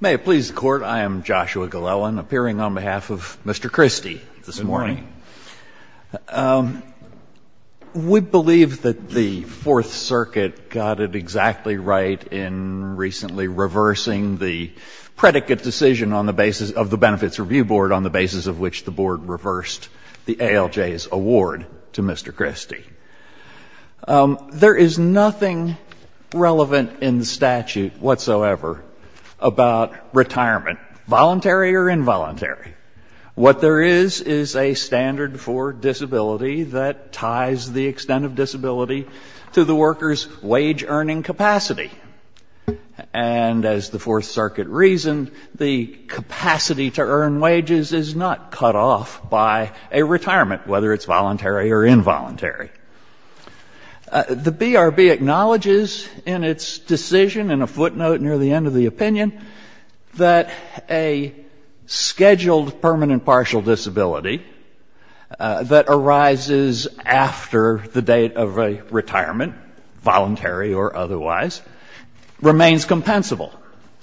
May it please the Court, I am Joshua Glellen, appearing on behalf of Mr. Christie this morning. We believe that the Fourth Circuit got it exactly right in recently reversing the predicate decision of the Benefits Review Board on the basis of which the Board reversed the ALJ's award to Mr. Christie. There is nothing relevant in the statute whatsoever about retirement, voluntary or involuntary. What there is, is a standard for disability that ties the extent of disability to the worker's wage earning capacity. And as the Fourth Circuit reasoned, the capacity to earn wages is not cut off by a retirement, whether it's voluntary or involuntary. The BRB acknowledges in its decision, in a footnote near the end of the opinion, that a scheduled permanent partial disability that arises after the date of a retirement, voluntary or otherwise, remains compensable.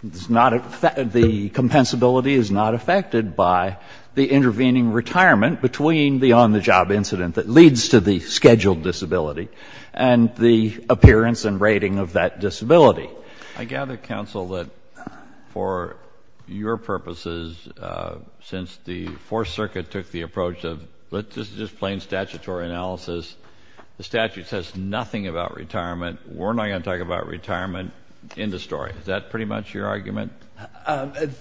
The compensability is not affected by the intervening retirement between the on-the-job incident that leads to the scheduled disability and the appearance and rating of that disability. I gather, Counsel, that for your purposes, since the Fourth Circuit took the approach of, this is just plain statutory analysis, the statute says nothing about retirement, we're not going to talk about retirement. End of story. Is that pretty much your argument?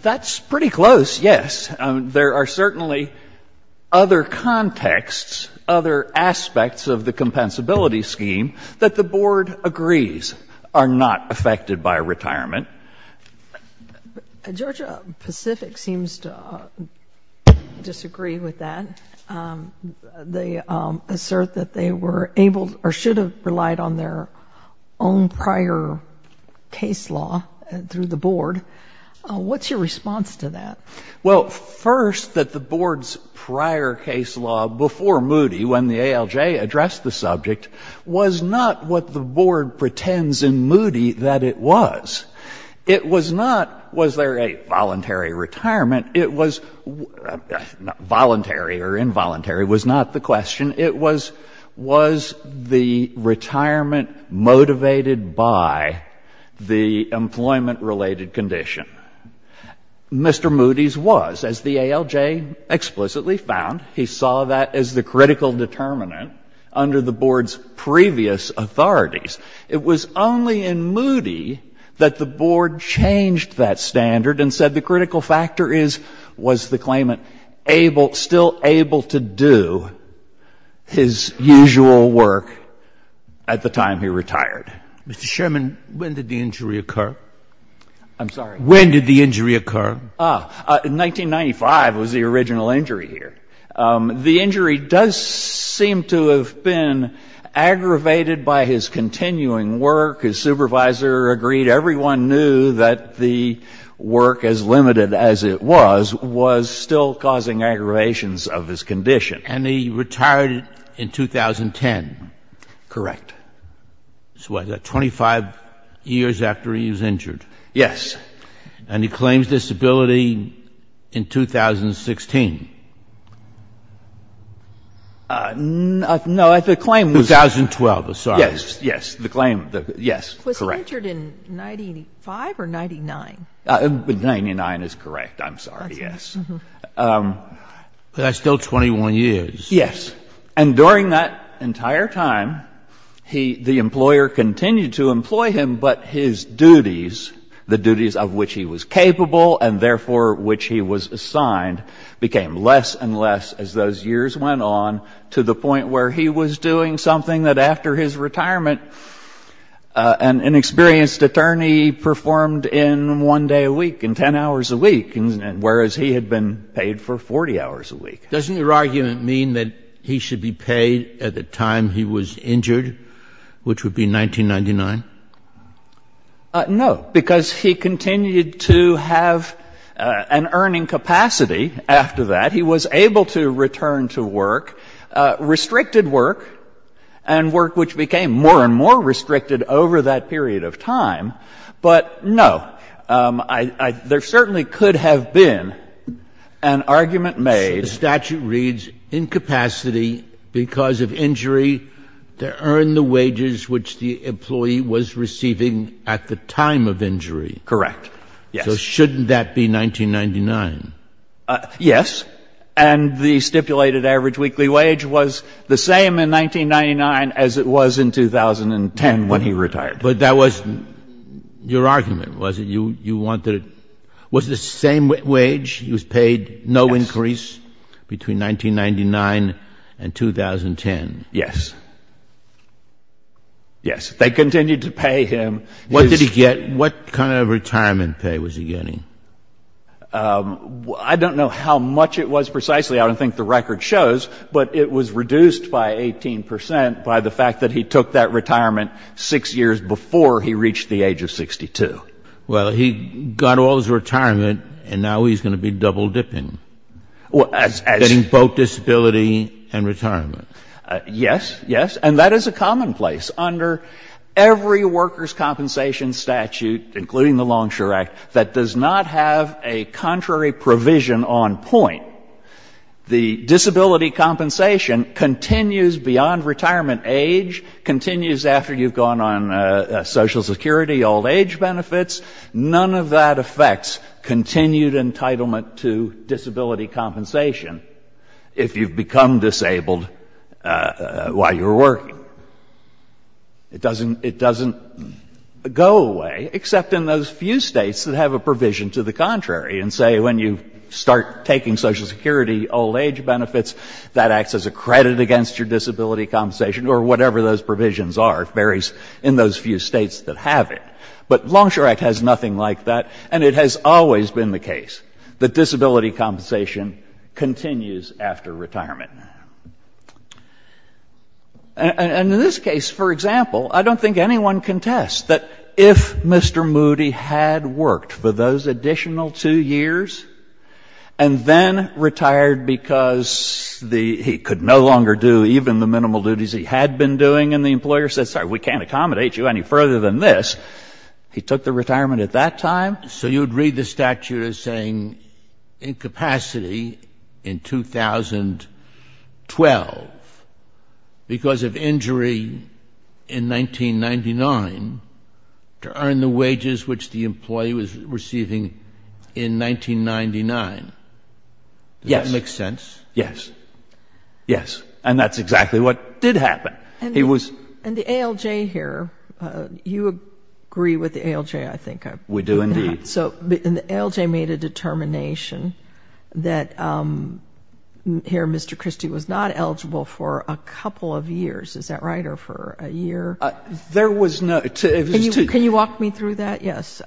That's pretty close, yes. There are certainly other contexts, other aspects of the compensability scheme that the Board agrees are not affected by retirement. Georgia Pacific seems to disagree with that. They assert that they were able or should have relied on their own prior case law through the Board. What's your response to that? Well, first, that the Board's prior case law before Moody, when the ALJ addressed the subject, was not what the Board pretends in Moody that it was. It was not, was there a voluntary retirement? It was, voluntary or involuntary was not the question. It was, was the retirement motivated by the employment-related condition? Mr. Moody's was, as the ALJ explicitly found. He saw that as the critical determinant under the Board's previous authorities. It was only in Moody that the Board changed that standard and said the critical factor is, was the claimant able, still able to do his usual work at the time he retired. Mr. Sherman, when did the injury occur? I'm sorry? When did the injury occur? Ah, in 1995 was the original injury here. The injury does seem to have been aggravated by his continuing work. His supervisor agreed. Everyone knew that the work, as limited as it was, was still causing aggravations of his condition. And he retired in 2010? Correct. So what, 25 years after he was injured? Yes. And he claims disability in 2016? No, the claim was 2012. I'm sorry. Yes, yes. The claim, yes, correct. Was he injured in 95 or 99? 99 is correct. I'm sorry. Yes. But that's still 21 years. Yes. And during that entire time, he, the employer continued to employ him, but his duties, the duties of which he was capable and therefore which he was assigned, became less and less as those years went on to the point where he was doing something that after his retirement an inexperienced attorney performed in one day a week, in 10 hours a week, whereas he had been paid for 40 hours a week. Doesn't your argument mean that he should be paid at the time he was injured, which would be 1999? No, because he continued to have an earning capacity after that. He was able to return to work, restricted work, and work which became more and more restricted over that period of time. But, no, there certainly could have been an argument made. The statute reads, Incapacity because of injury to earn the wages which the employee was receiving at the time of injury. Correct. Yes. So shouldn't that be 1999? Yes. And the stipulated average weekly wage was the same in 1999 as it was in 2010 when he retired. But that wasn't your argument, was it? Was it the same wage? He was paid no increase between 1999 and 2010? Yes. Yes, they continued to pay him. What did he get? What kind of retirement pay was he getting? I don't know how much it was precisely. I don't think the record shows, but it was reduced by 18 percent by the fact that he took that retirement six years before he reached the age of 62. Well, he got all his retirement, and now he's going to be double dipping, getting both disability and retirement. Yes. Yes. And that is a commonplace under every workers' compensation statute, including the Longshore Act, that does not have a contrary provision on point. The disability compensation continues beyond retirement age, continues after you've gone on Social Security, old age benefits. None of that affects continued entitlement to disability compensation if you've become disabled while you're working. It doesn't go away, except in those few states that have a provision to the contrary and say when you start taking Social Security old age benefits, that acts as a credit against your disability compensation, or whatever those provisions are. It varies in those few states that have it. But Longshore Act has nothing like that, and it has always been the case that disability compensation continues after retirement. And in this case, for example, I don't think anyone can test that if Mr. Moody had worked for those additional two years and then retired because he could no longer do even the minimal duties he had been doing and the employer said, sorry, we can't accommodate you any further than this. He took the retirement at that time. So you would read the statute as saying incapacity in 2012 because of injury in 1999 to earn the wages which the Does that make sense? Yes. Yes. And that's exactly what did happen. And the ALJ here, you agree with the ALJ, I think. We do indeed. And the ALJ made a determination that here Mr. Christie was not eligible for a couple of years. Is that right? Or for a year? There was no. Can you walk me through that? Yes.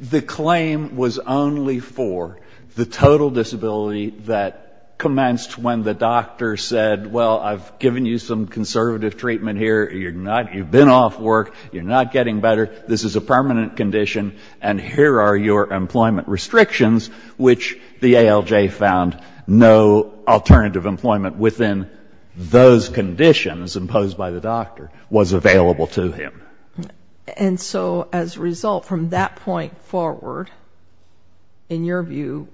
The claim was only for the total disability that commenced when the doctor said, well, I've given you some conservative treatment here. You've been off work. You're not getting better. This is a permanent condition, and here are your employment restrictions, which the ALJ found no alternative employment within those conditions imposed by the doctor was available to him. And so as a result, from that point forward, in your view,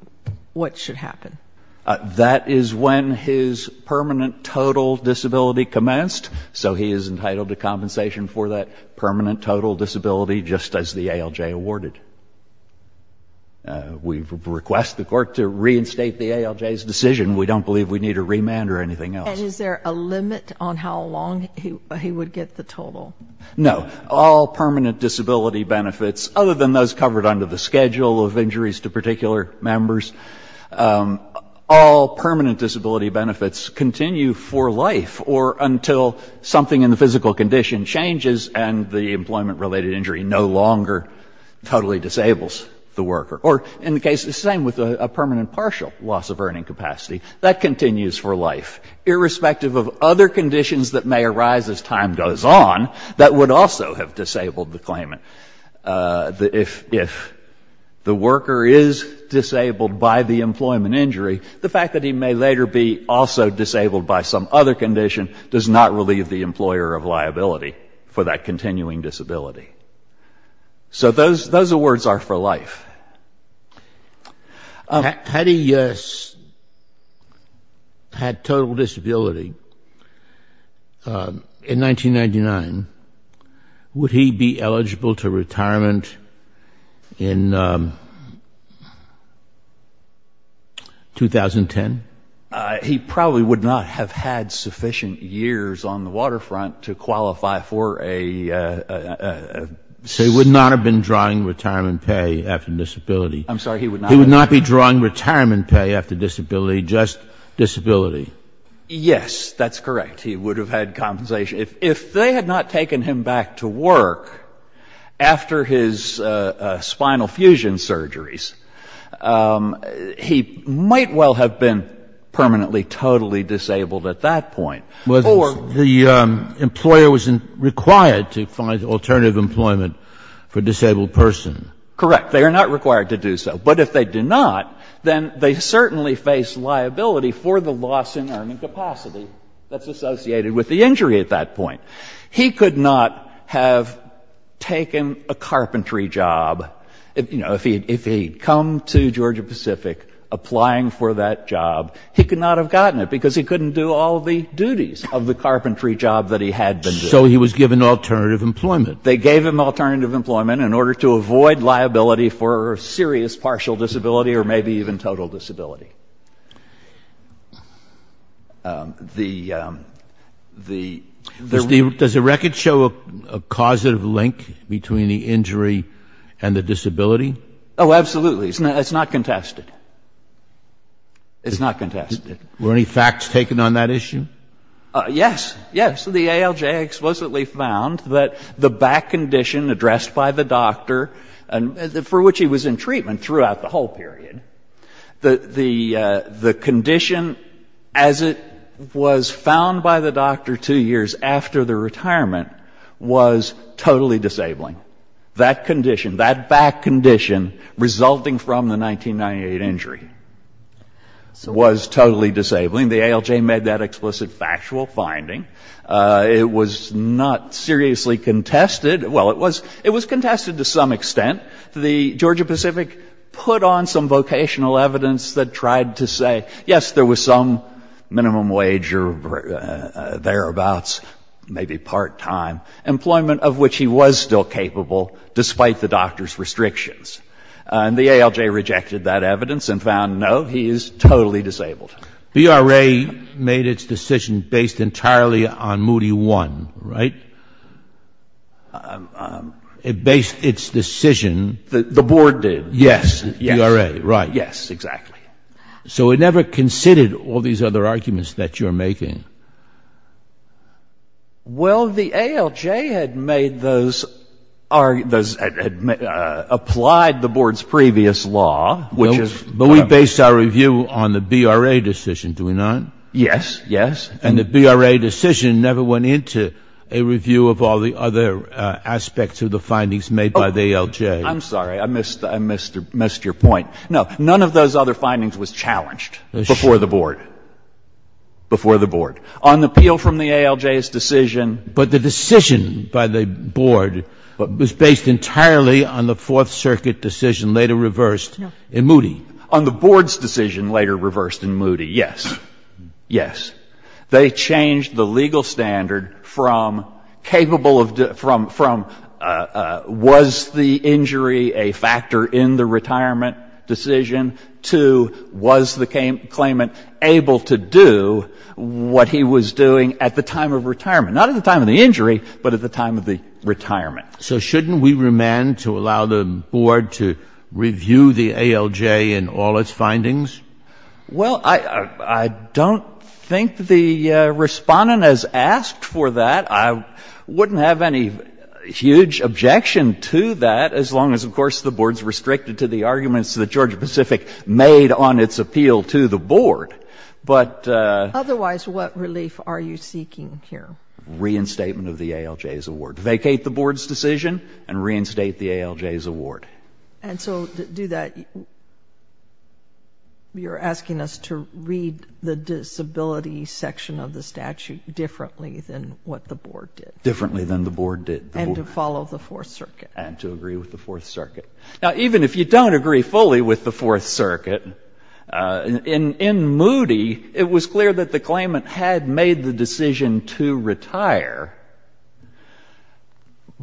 what should happen? That is when his permanent total disability commenced, so he is entitled to compensation for that permanent total disability just as the ALJ awarded. We request the court to reinstate the ALJ's decision. We don't believe we need a remand or anything else. And is there a limit on how long he would get the total? No. All permanent disability benefits, other than those covered under the schedule of injuries to particular members, all permanent disability benefits continue for life or until something in the physical condition changes and the employment-related injury no longer totally disables the worker. Or in the case, the same with a permanent partial loss of earning capacity. That continues for life. Irrespective of other conditions that may arise as time goes on that would also have disabled the claimant. If the worker is disabled by the employment injury, the fact that he may later be also disabled by some other condition does not relieve the employer of liability for that continuing disability. So those awards are for life. Had he had total disability in 1999, would he be eligible to retirement in 2010? He probably would not have had sufficient years on the waterfront to qualify for a... He would not have been drawing retirement pay after disability. I'm sorry. He would not be drawing retirement pay after disability, just disability. Yes, that's correct. He would have had compensation. If they had not taken him back to work after his spinal fusion surgeries, he might well have been permanently totally disabled at that point. The employer was required to find alternative employment for a disabled person. Correct. They are not required to do so. But if they do not, then they certainly face liability for the loss in earning capacity that's associated with the injury at that point. He could not have taken a carpentry job. You know, if he had come to Georgia-Pacific applying for that job, he could not have gotten it because he couldn't do all the duties of the carpentry job that he had been doing. So he was given alternative employment. They gave him alternative employment in order to avoid liability for serious partial disability or maybe even total disability. The... Does the record show a causative link between the injury and the disability? Oh, absolutely. It's not contested. It's not contested. Were any facts taken on that issue? Yes. Yes. The ALJ explicitly found that the back condition addressed by the doctor, for which he was in treatment throughout the whole period, the condition as it was found by the doctor two years after the retirement was totally disabling. That condition, that back condition resulting from the 1998 injury was totally disabling. The ALJ made that explicit factual finding. It was not seriously contested. Well, it was contested to some extent. The Georgia-Pacific put on some vocational evidence that tried to say, yes, there was some minimum wage or thereabouts, maybe part-time employment, of which he was still capable despite the doctor's restrictions. And the ALJ rejected that evidence and found, no, he is totally disabled. The VRA made its decision based entirely on Moody 1, right? It based its decision... The board did. Yes. The VRA, right. Yes, exactly. So it never considered all these other arguments that you're making. Well, the ALJ had made those, applied the board's previous law, which is... But we based our review on the VRA decision, do we not? Yes, yes. And the VRA decision never went into a review of all the other aspects of the findings made by the ALJ. I'm sorry. I missed your point. No. None of those other findings was challenged before the board, before the board. On the appeal from the ALJ's decision... But the decision by the board was based entirely on the Fourth Circuit decision later reversed in Moody. On the board's decision later reversed in Moody, yes. Yes. So shouldn't we remand to allow the board to review the ALJ and all its findings? Well, I don't think the Respondent has asked for that. I wouldn't have any huge objection to that as long as, of course, the board's restricted to the arguments that Georgia-Pacific made on its appeal to the board. But... Otherwise, what relief are you seeking here? Reinstatement of the ALJ's award. Vacate the board's decision and reinstate the ALJ's award. And so to do that, you're asking us to read the disability section of the statute differently than what the board did? Differently than the board did. And to follow the Fourth Circuit. And to agree with the Fourth Circuit. Now, even if you don't agree fully with the Fourth Circuit, in Moody, it was clear that the claimant had made the decision to retire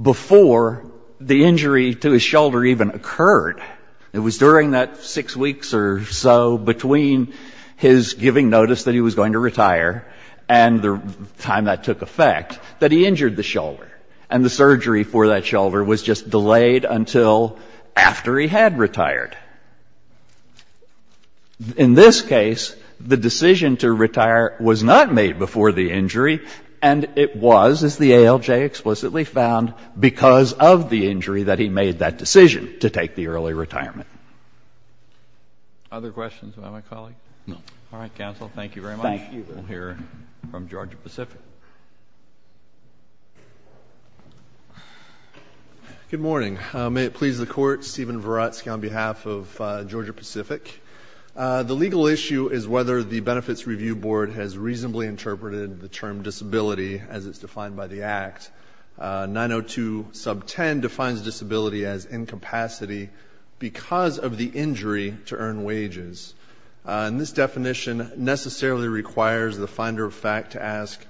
before the injury to his shoulder even occurred. It was during that six weeks or so between his giving notice that he was going to retire and the time that took effect that he injured the shoulder. And the surgery for that shoulder was just delayed until after he had retired. In this case, the decision to retire was not made before the injury, and it was, as the ALJ explicitly found, because of the injury that he made that decision to take the early retirement. Other questions about my colleague? No. All right, counsel. Thank you very much. Thank you. We'll hear from Georgia Pacific. Good morning. May it please the Court, Stephen Verutsky on behalf of Georgia Pacific. The legal issue is whether the Benefits Review Board has reasonably interpreted the term disability as it's defined by the Act. 902 sub 10 defines disability as incapacity because of the injury to earn wages. And this definition necessarily requires the finder of fact to ask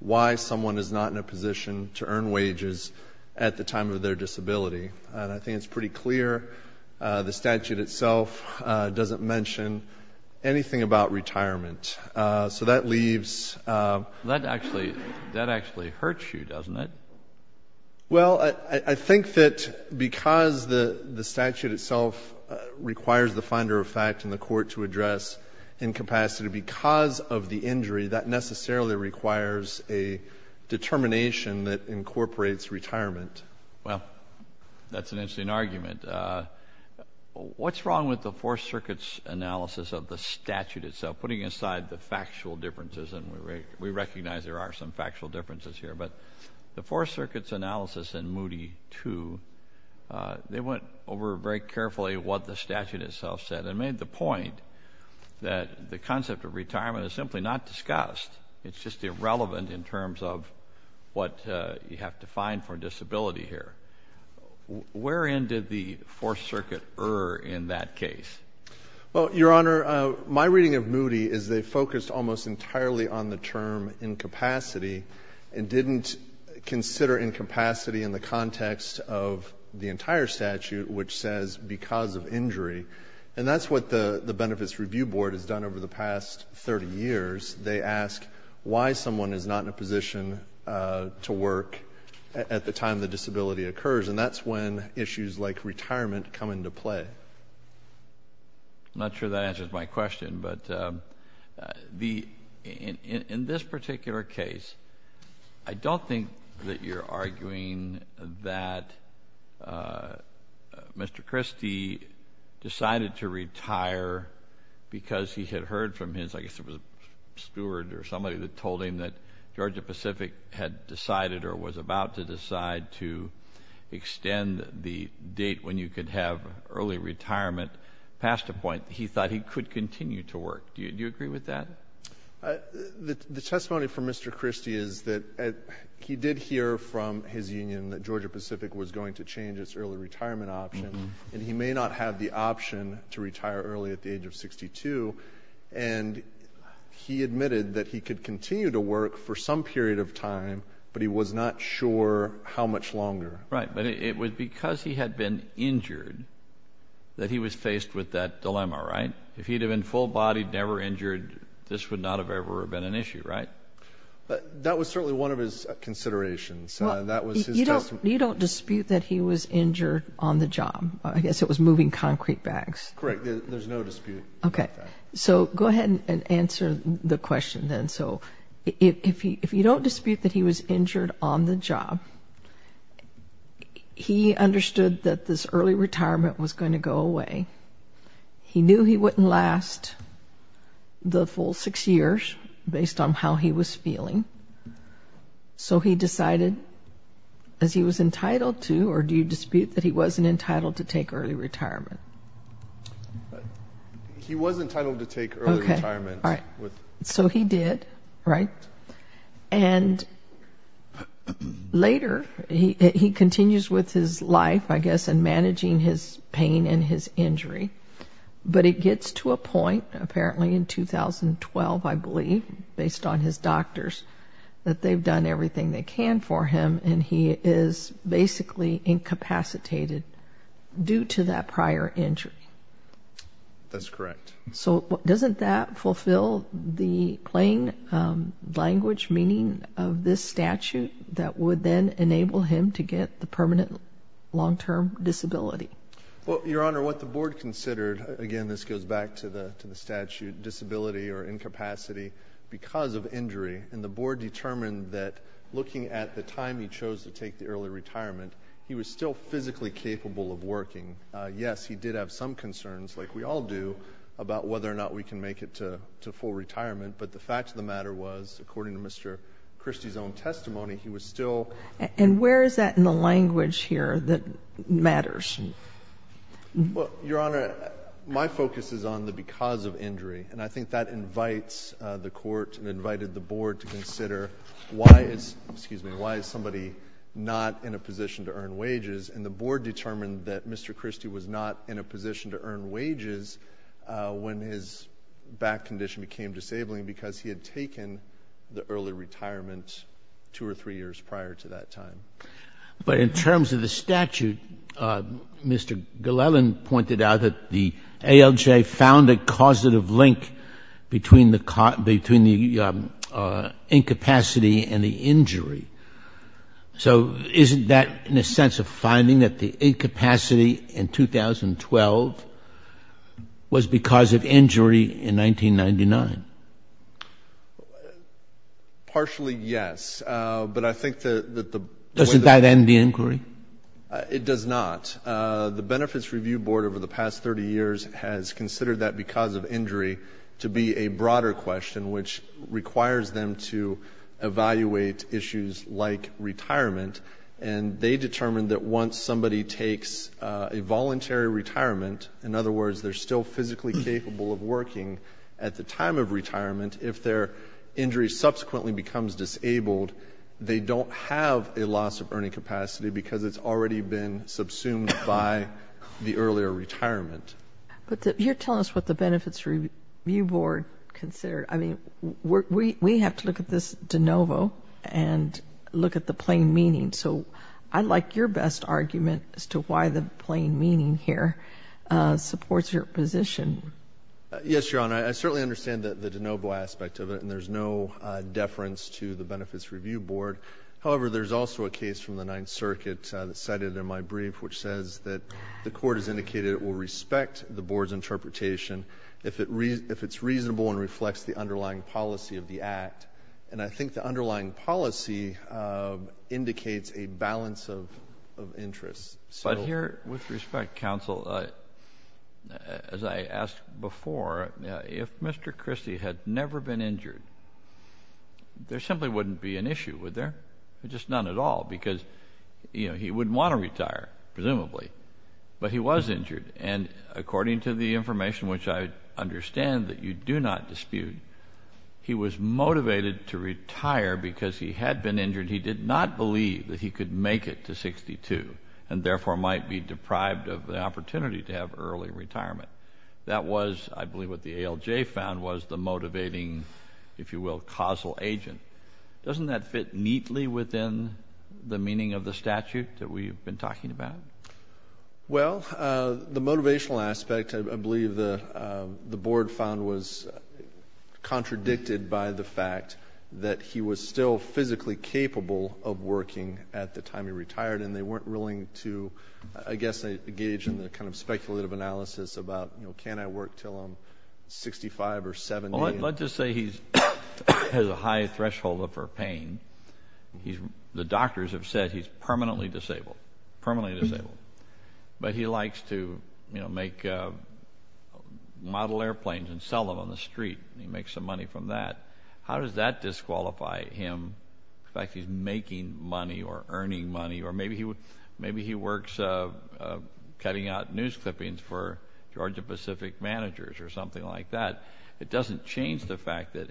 why someone is not in a position to earn wages at the time of their disability. And I think it's pretty clear. The statute itself doesn't mention anything about retirement. So that leaves That actually hurts you, doesn't it? Well, I think that because the statute itself requires the finder of fact in the court to address incapacity because of the injury, that necessarily requires a determination that incorporates retirement. Well, that's an interesting argument. What's wrong with the Fourth Circuit's analysis of the statute itself, putting aside the factual differences? And we recognize there are some factual differences here. But the Fourth Circuit's analysis in Moody 2, they went over very carefully what the statute itself said and made the point that the concept of retirement is simply not discussed. It's just irrelevant in terms of what you have to find for disability here. Wherein did the Fourth Circuit err in that case? Well, Your Honor, my reading of Moody is they focused almost entirely on the term incapacity and didn't consider incapacity in the context of the entire statute, which says because of injury. And that's what the Benefits Review Board has done over the past 30 years. They ask why someone is not in a position to work at the time the disability occurs. And that's when issues like retirement come into play. I'm not sure that answers my question, but in this particular case, I don't think that you're arguing that Mr. Christie decided to retire because he had heard from his I guess it was a steward or somebody that told him that Georgia-Pacific had decided or was about to decide to extend the date when you could have early retirement past a point. He thought he could continue to work. Do you agree with that? The testimony from Mr. Christie is that he did hear from his union that Georgia-Pacific was going to change its early retirement option, and he may not have the option to retire early at the age of 62. And he admitted that he could continue to work for some period of time, but he was not sure how much longer. Right, but it was because he had been injured that he was faced with that dilemma, right? If he'd have been full-bodied, never injured, this would not have ever been an issue, right? That was certainly one of his considerations. You don't dispute that he was injured on the job. I guess it was moving concrete bags. Correct, there's no dispute about that. Okay, so go ahead and answer the question then. So if you don't dispute that he was injured on the job, he understood that this early retirement was going to go away. He knew he wouldn't last the full six years based on how he was feeling, so he decided, as he was entitled to, or do you dispute that he wasn't entitled to take early retirement? He was entitled to take early retirement. So he did, right? And later, he continues with his life, I guess, and managing his pain and his injury. But it gets to a point, apparently in 2012, I believe, based on his doctors, that they've done everything they can for him, and he is basically incapacitated due to that prior injury. That's correct. So doesn't that fulfill the plain language meaning of this statute that would then enable him to get the permanent long-term disability? Well, Your Honor, what the Board considered, again, this goes back to the statute, disability or incapacity because of injury, and the Board determined that looking at the time he chose to take the early retirement, he was still physically capable of working. Yes, he did have some concerns, like we all do, about whether or not we can make it to full retirement, but the fact of the matter was, according to Mr. Christie's own testimony, he was still— And where is that in the language here that matters? Well, Your Honor, my focus is on the because of injury, and I think that invites the Court and invited the Board to consider why is somebody not in a position to earn wages, and the Board determined that Mr. Christie was not in a position to earn wages when his back condition became disabling because he had taken the early retirement two or three years prior to that time. But in terms of the statute, Mr. Glellan pointed out that the ALJ found a causative link between the incapacity and the injury. So isn't that in a sense a finding that the incapacity in 2012 was because of injury in 1999? Partially, yes, but I think that the— Doesn't that end the inquiry? It does not. The Benefits Review Board over the past 30 years has considered that because of injury to be a broader question which requires them to evaluate issues like retirement, and they determined that once somebody takes a voluntary retirement, in other words they're still physically capable of working at the time of retirement, if their injury subsequently becomes disabled, they don't have a loss of earning capacity because it's already been subsumed by the earlier retirement. But you're telling us what the Benefits Review Board considered. I mean, we have to look at this de novo and look at the plain meaning. So I'd like your best argument as to why the plain meaning here supports your position. Yes, Your Honor, I certainly understand the de novo aspect of it, and there's no deference to the Benefits Review Board. However, there's also a case from the Ninth Circuit that's cited in my brief which says that the court has indicated it will respect the board's interpretation if it's reasonable and reflects the underlying policy of the Act. And I think the underlying policy indicates a balance of interests. But here, with respect, counsel, as I asked before, if Mr. Christie had never been injured, there simply wouldn't be an issue, would there? Just none at all because, you know, he wouldn't want to retire, presumably. But he was injured, and according to the information which I understand that you do not dispute, he was motivated to retire because he had been injured. He did not believe that he could make it to 62 and therefore might be deprived of the opportunity to have early retirement. That was, I believe, what the ALJ found was the motivating, if you will, causal agent. Doesn't that fit neatly within the meaning of the statute that we've been talking about? Well, the motivational aspect, I believe, the board found was contradicted by the fact that he was still physically capable of working at the time he retired and they weren't willing to, I guess, engage in the kind of speculative analysis about, you know, can I work until I'm 65 or 70? Well, let's just say he has a high threshold for pain. The doctors have said he's permanently disabled, permanently disabled. But he likes to, you know, make model airplanes and sell them on the street. He makes some money from that. How does that disqualify him? In fact, he's making money or earning money, or maybe he works cutting out news clippings for Georgia Pacific managers or something like that. It doesn't change the fact that,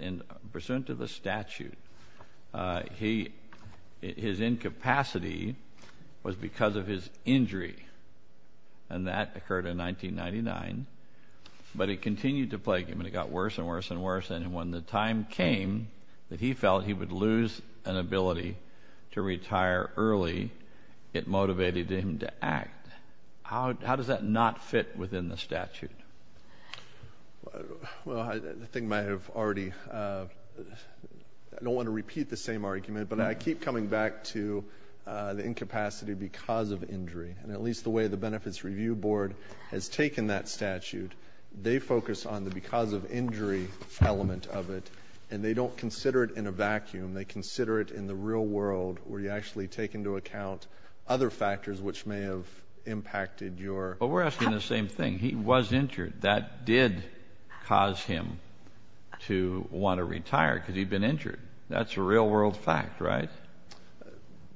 pursuant to the statute, his incapacity was because of his injury, and that occurred in 1999. But it continued to plague him, and it got worse and worse and worse, and when the time came that he felt he would lose an ability to retire early, it motivated him to act. How does that not fit within the statute? Well, I think I might have already—I don't want to repeat the same argument, but I keep coming back to the incapacity because of injury, and at least the way the Benefits Review Board has taken that statute, they focus on the because of injury element of it, and they don't consider it in a vacuum. They consider it in the real world where you actually take into account other factors which may have impacted your— But we're asking the same thing. He was injured. That did cause him to want to retire because he'd been injured. That's a real-world fact, right?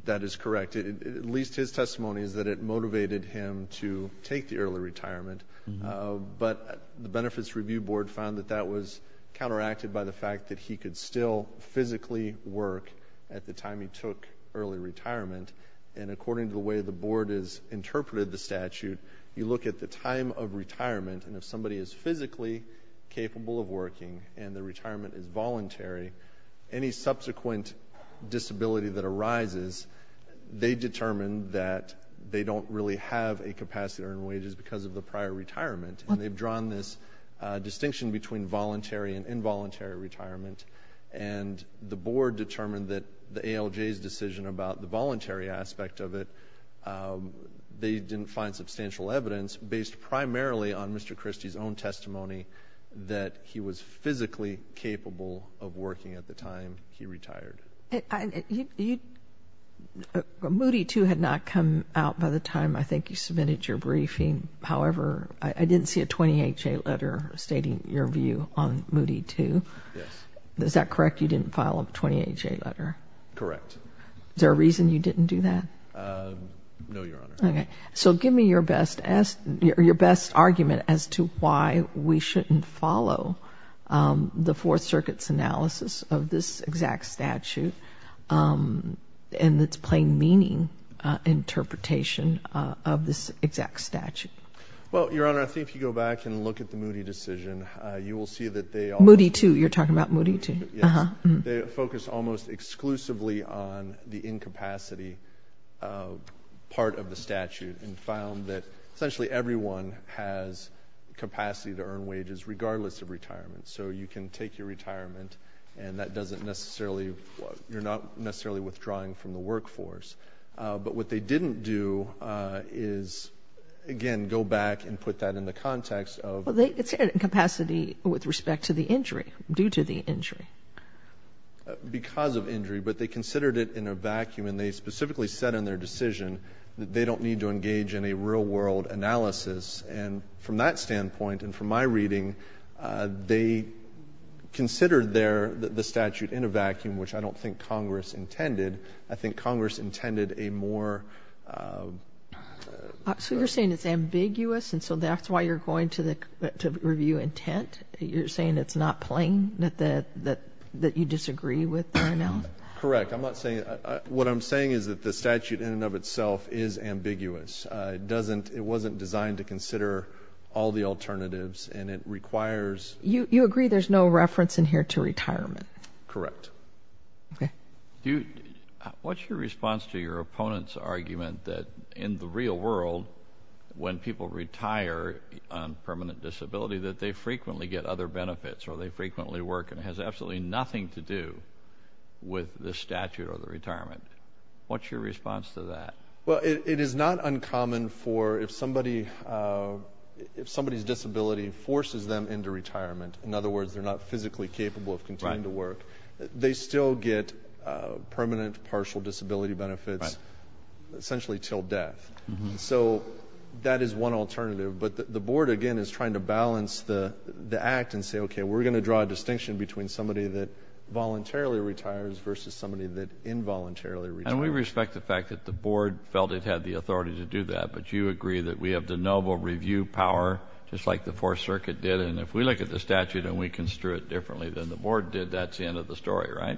That is correct. At least his testimony is that it motivated him to take the early retirement, but the Benefits Review Board found that that was counteracted by the fact that he could still physically work at the time he took early retirement, and according to the way the Board has interpreted the statute, you look at the time of retirement, and if somebody is physically capable of working and their retirement is voluntary, any subsequent disability that arises, they determine that they don't really have a capacity to earn wages because of the prior retirement, and they've drawn this distinction between voluntary and involuntary retirement, and the Board determined that the ALJ's decision about the voluntary aspect of it, they didn't find substantial evidence based primarily on Mr. Christie's own testimony that he was physically capable of working at the time he retired. Moody, too, had not come out by the time I think you submitted your briefing. However, I didn't see a 28-J letter stating your view on Moody, too. Yes. Is that correct? You didn't file a 28-J letter? Correct. Is there a reason you didn't do that? No, Your Honor. Okay. So give me your best argument as to why we shouldn't follow the Fourth Circuit's analysis of this exact statute and its plain meaning interpretation of this exact statute. Well, Your Honor, I think if you go back and look at the Moody decision, you will see that they— Moody, too. You're talking about Moody, too. Yes. They focused almost exclusively on the incapacity part of the statute and found that essentially everyone has capacity to earn wages regardless of retirement, so you can take your retirement and that doesn't necessarily—you're not necessarily withdrawing from the workforce. But what they didn't do is, again, go back and put that in the context of— It's incapacity with respect to the injury, due to the injury. Because of injury. But they considered it in a vacuum and they specifically said in their decision that they don't need to engage in a real-world analysis. And from that standpoint and from my reading, they considered the statute in a vacuum, which I don't think Congress intended. I think Congress intended a more— So you're saying it's ambiguous and so that's why you're going to review intent? You're saying it's not plain, that you disagree with the right now? Correct. I'm not saying—what I'm saying is that the statute in and of itself is ambiguous. It wasn't designed to consider all the alternatives and it requires— You agree there's no reference in here to retirement? Correct. Okay. What's your response to your opponent's argument that in the real world, when people retire on permanent disability, that they frequently get other benefits or they frequently work and it has absolutely nothing to do with the statute or the retirement? What's your response to that? Well, it is not uncommon for if somebody's disability forces them into retirement, in other words, they're not physically capable of continuing to work, they still get permanent partial disability benefits essentially till death. So that is one alternative. But the board, again, is trying to balance the act and say, okay, we're going to draw a distinction between somebody that voluntarily retires versus somebody that involuntarily retires. And we respect the fact that the board felt it had the authority to do that, but you agree that we have the noble review power just like the Fourth Circuit did, and if we look at the statute and we construe it differently than the board did, that's the end of the story, right,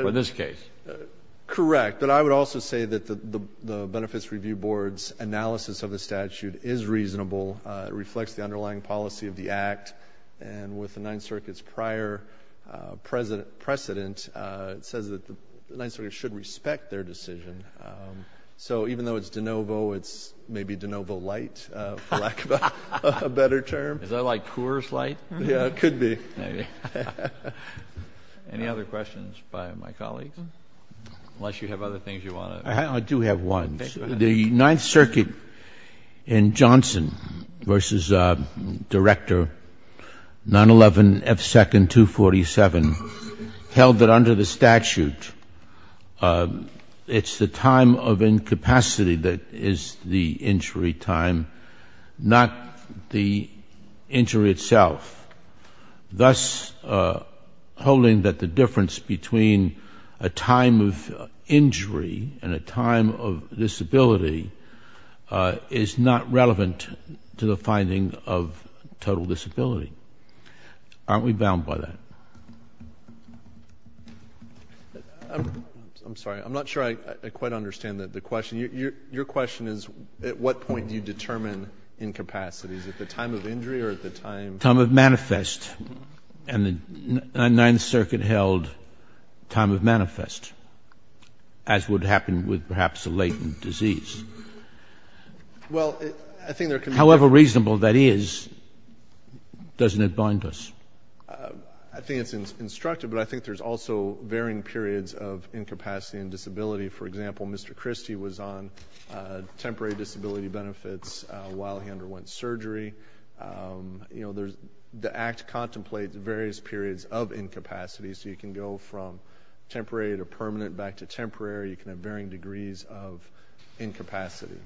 for this case? Correct. But I would also say that the Benefits Review Board's analysis of the statute is reasonable. It reflects the underlying policy of the act, and with the Ninth Circuit's prior precedent, it says that the Ninth Circuit should respect their decision. So even though it's de novo, it's maybe de novo light, for lack of a better term. Is that like Coors Light? Yeah, it could be. Any other questions by my colleagues? Unless you have other things you want to. I do have one. The Ninth Circuit in Johnson v. Director, 911F2247, held that under the statute it's the time of incapacity that is the injury time, not the injury itself, thus holding that the difference between a time of injury and a time of disability is not relevant to the finding of total disability. Aren't we bound by that? I'm sorry. I'm not sure I quite understand the question. Your question is at what point do you determine incapacity? Is it the time of injury or the time? Time of manifest. And the Ninth Circuit held time of manifest, as would happen with perhaps a latent disease. However reasonable that is, doesn't it bind us? I think it's instructive, but I think there's also varying periods of incapacity and disability. For example, Mr. Christie was on temporary disability benefits while he underwent surgery. The Act contemplates various periods of incapacity, so you can go from temporary to permanent back to temporary. You can have varying degrees of incapacity.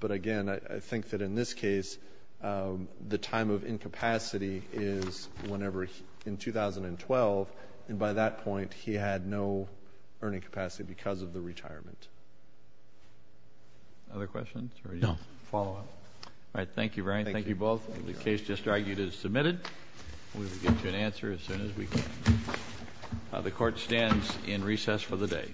But, again, I think that in this case the time of incapacity is whenever in 2012, and by that point he had no earning capacity because of the retirement. Other questions or follow-up? All right. Thank you, Brian. Thank you both. The case just argued is submitted. We will get you an answer as soon as we can. The Court stands in recess for the day.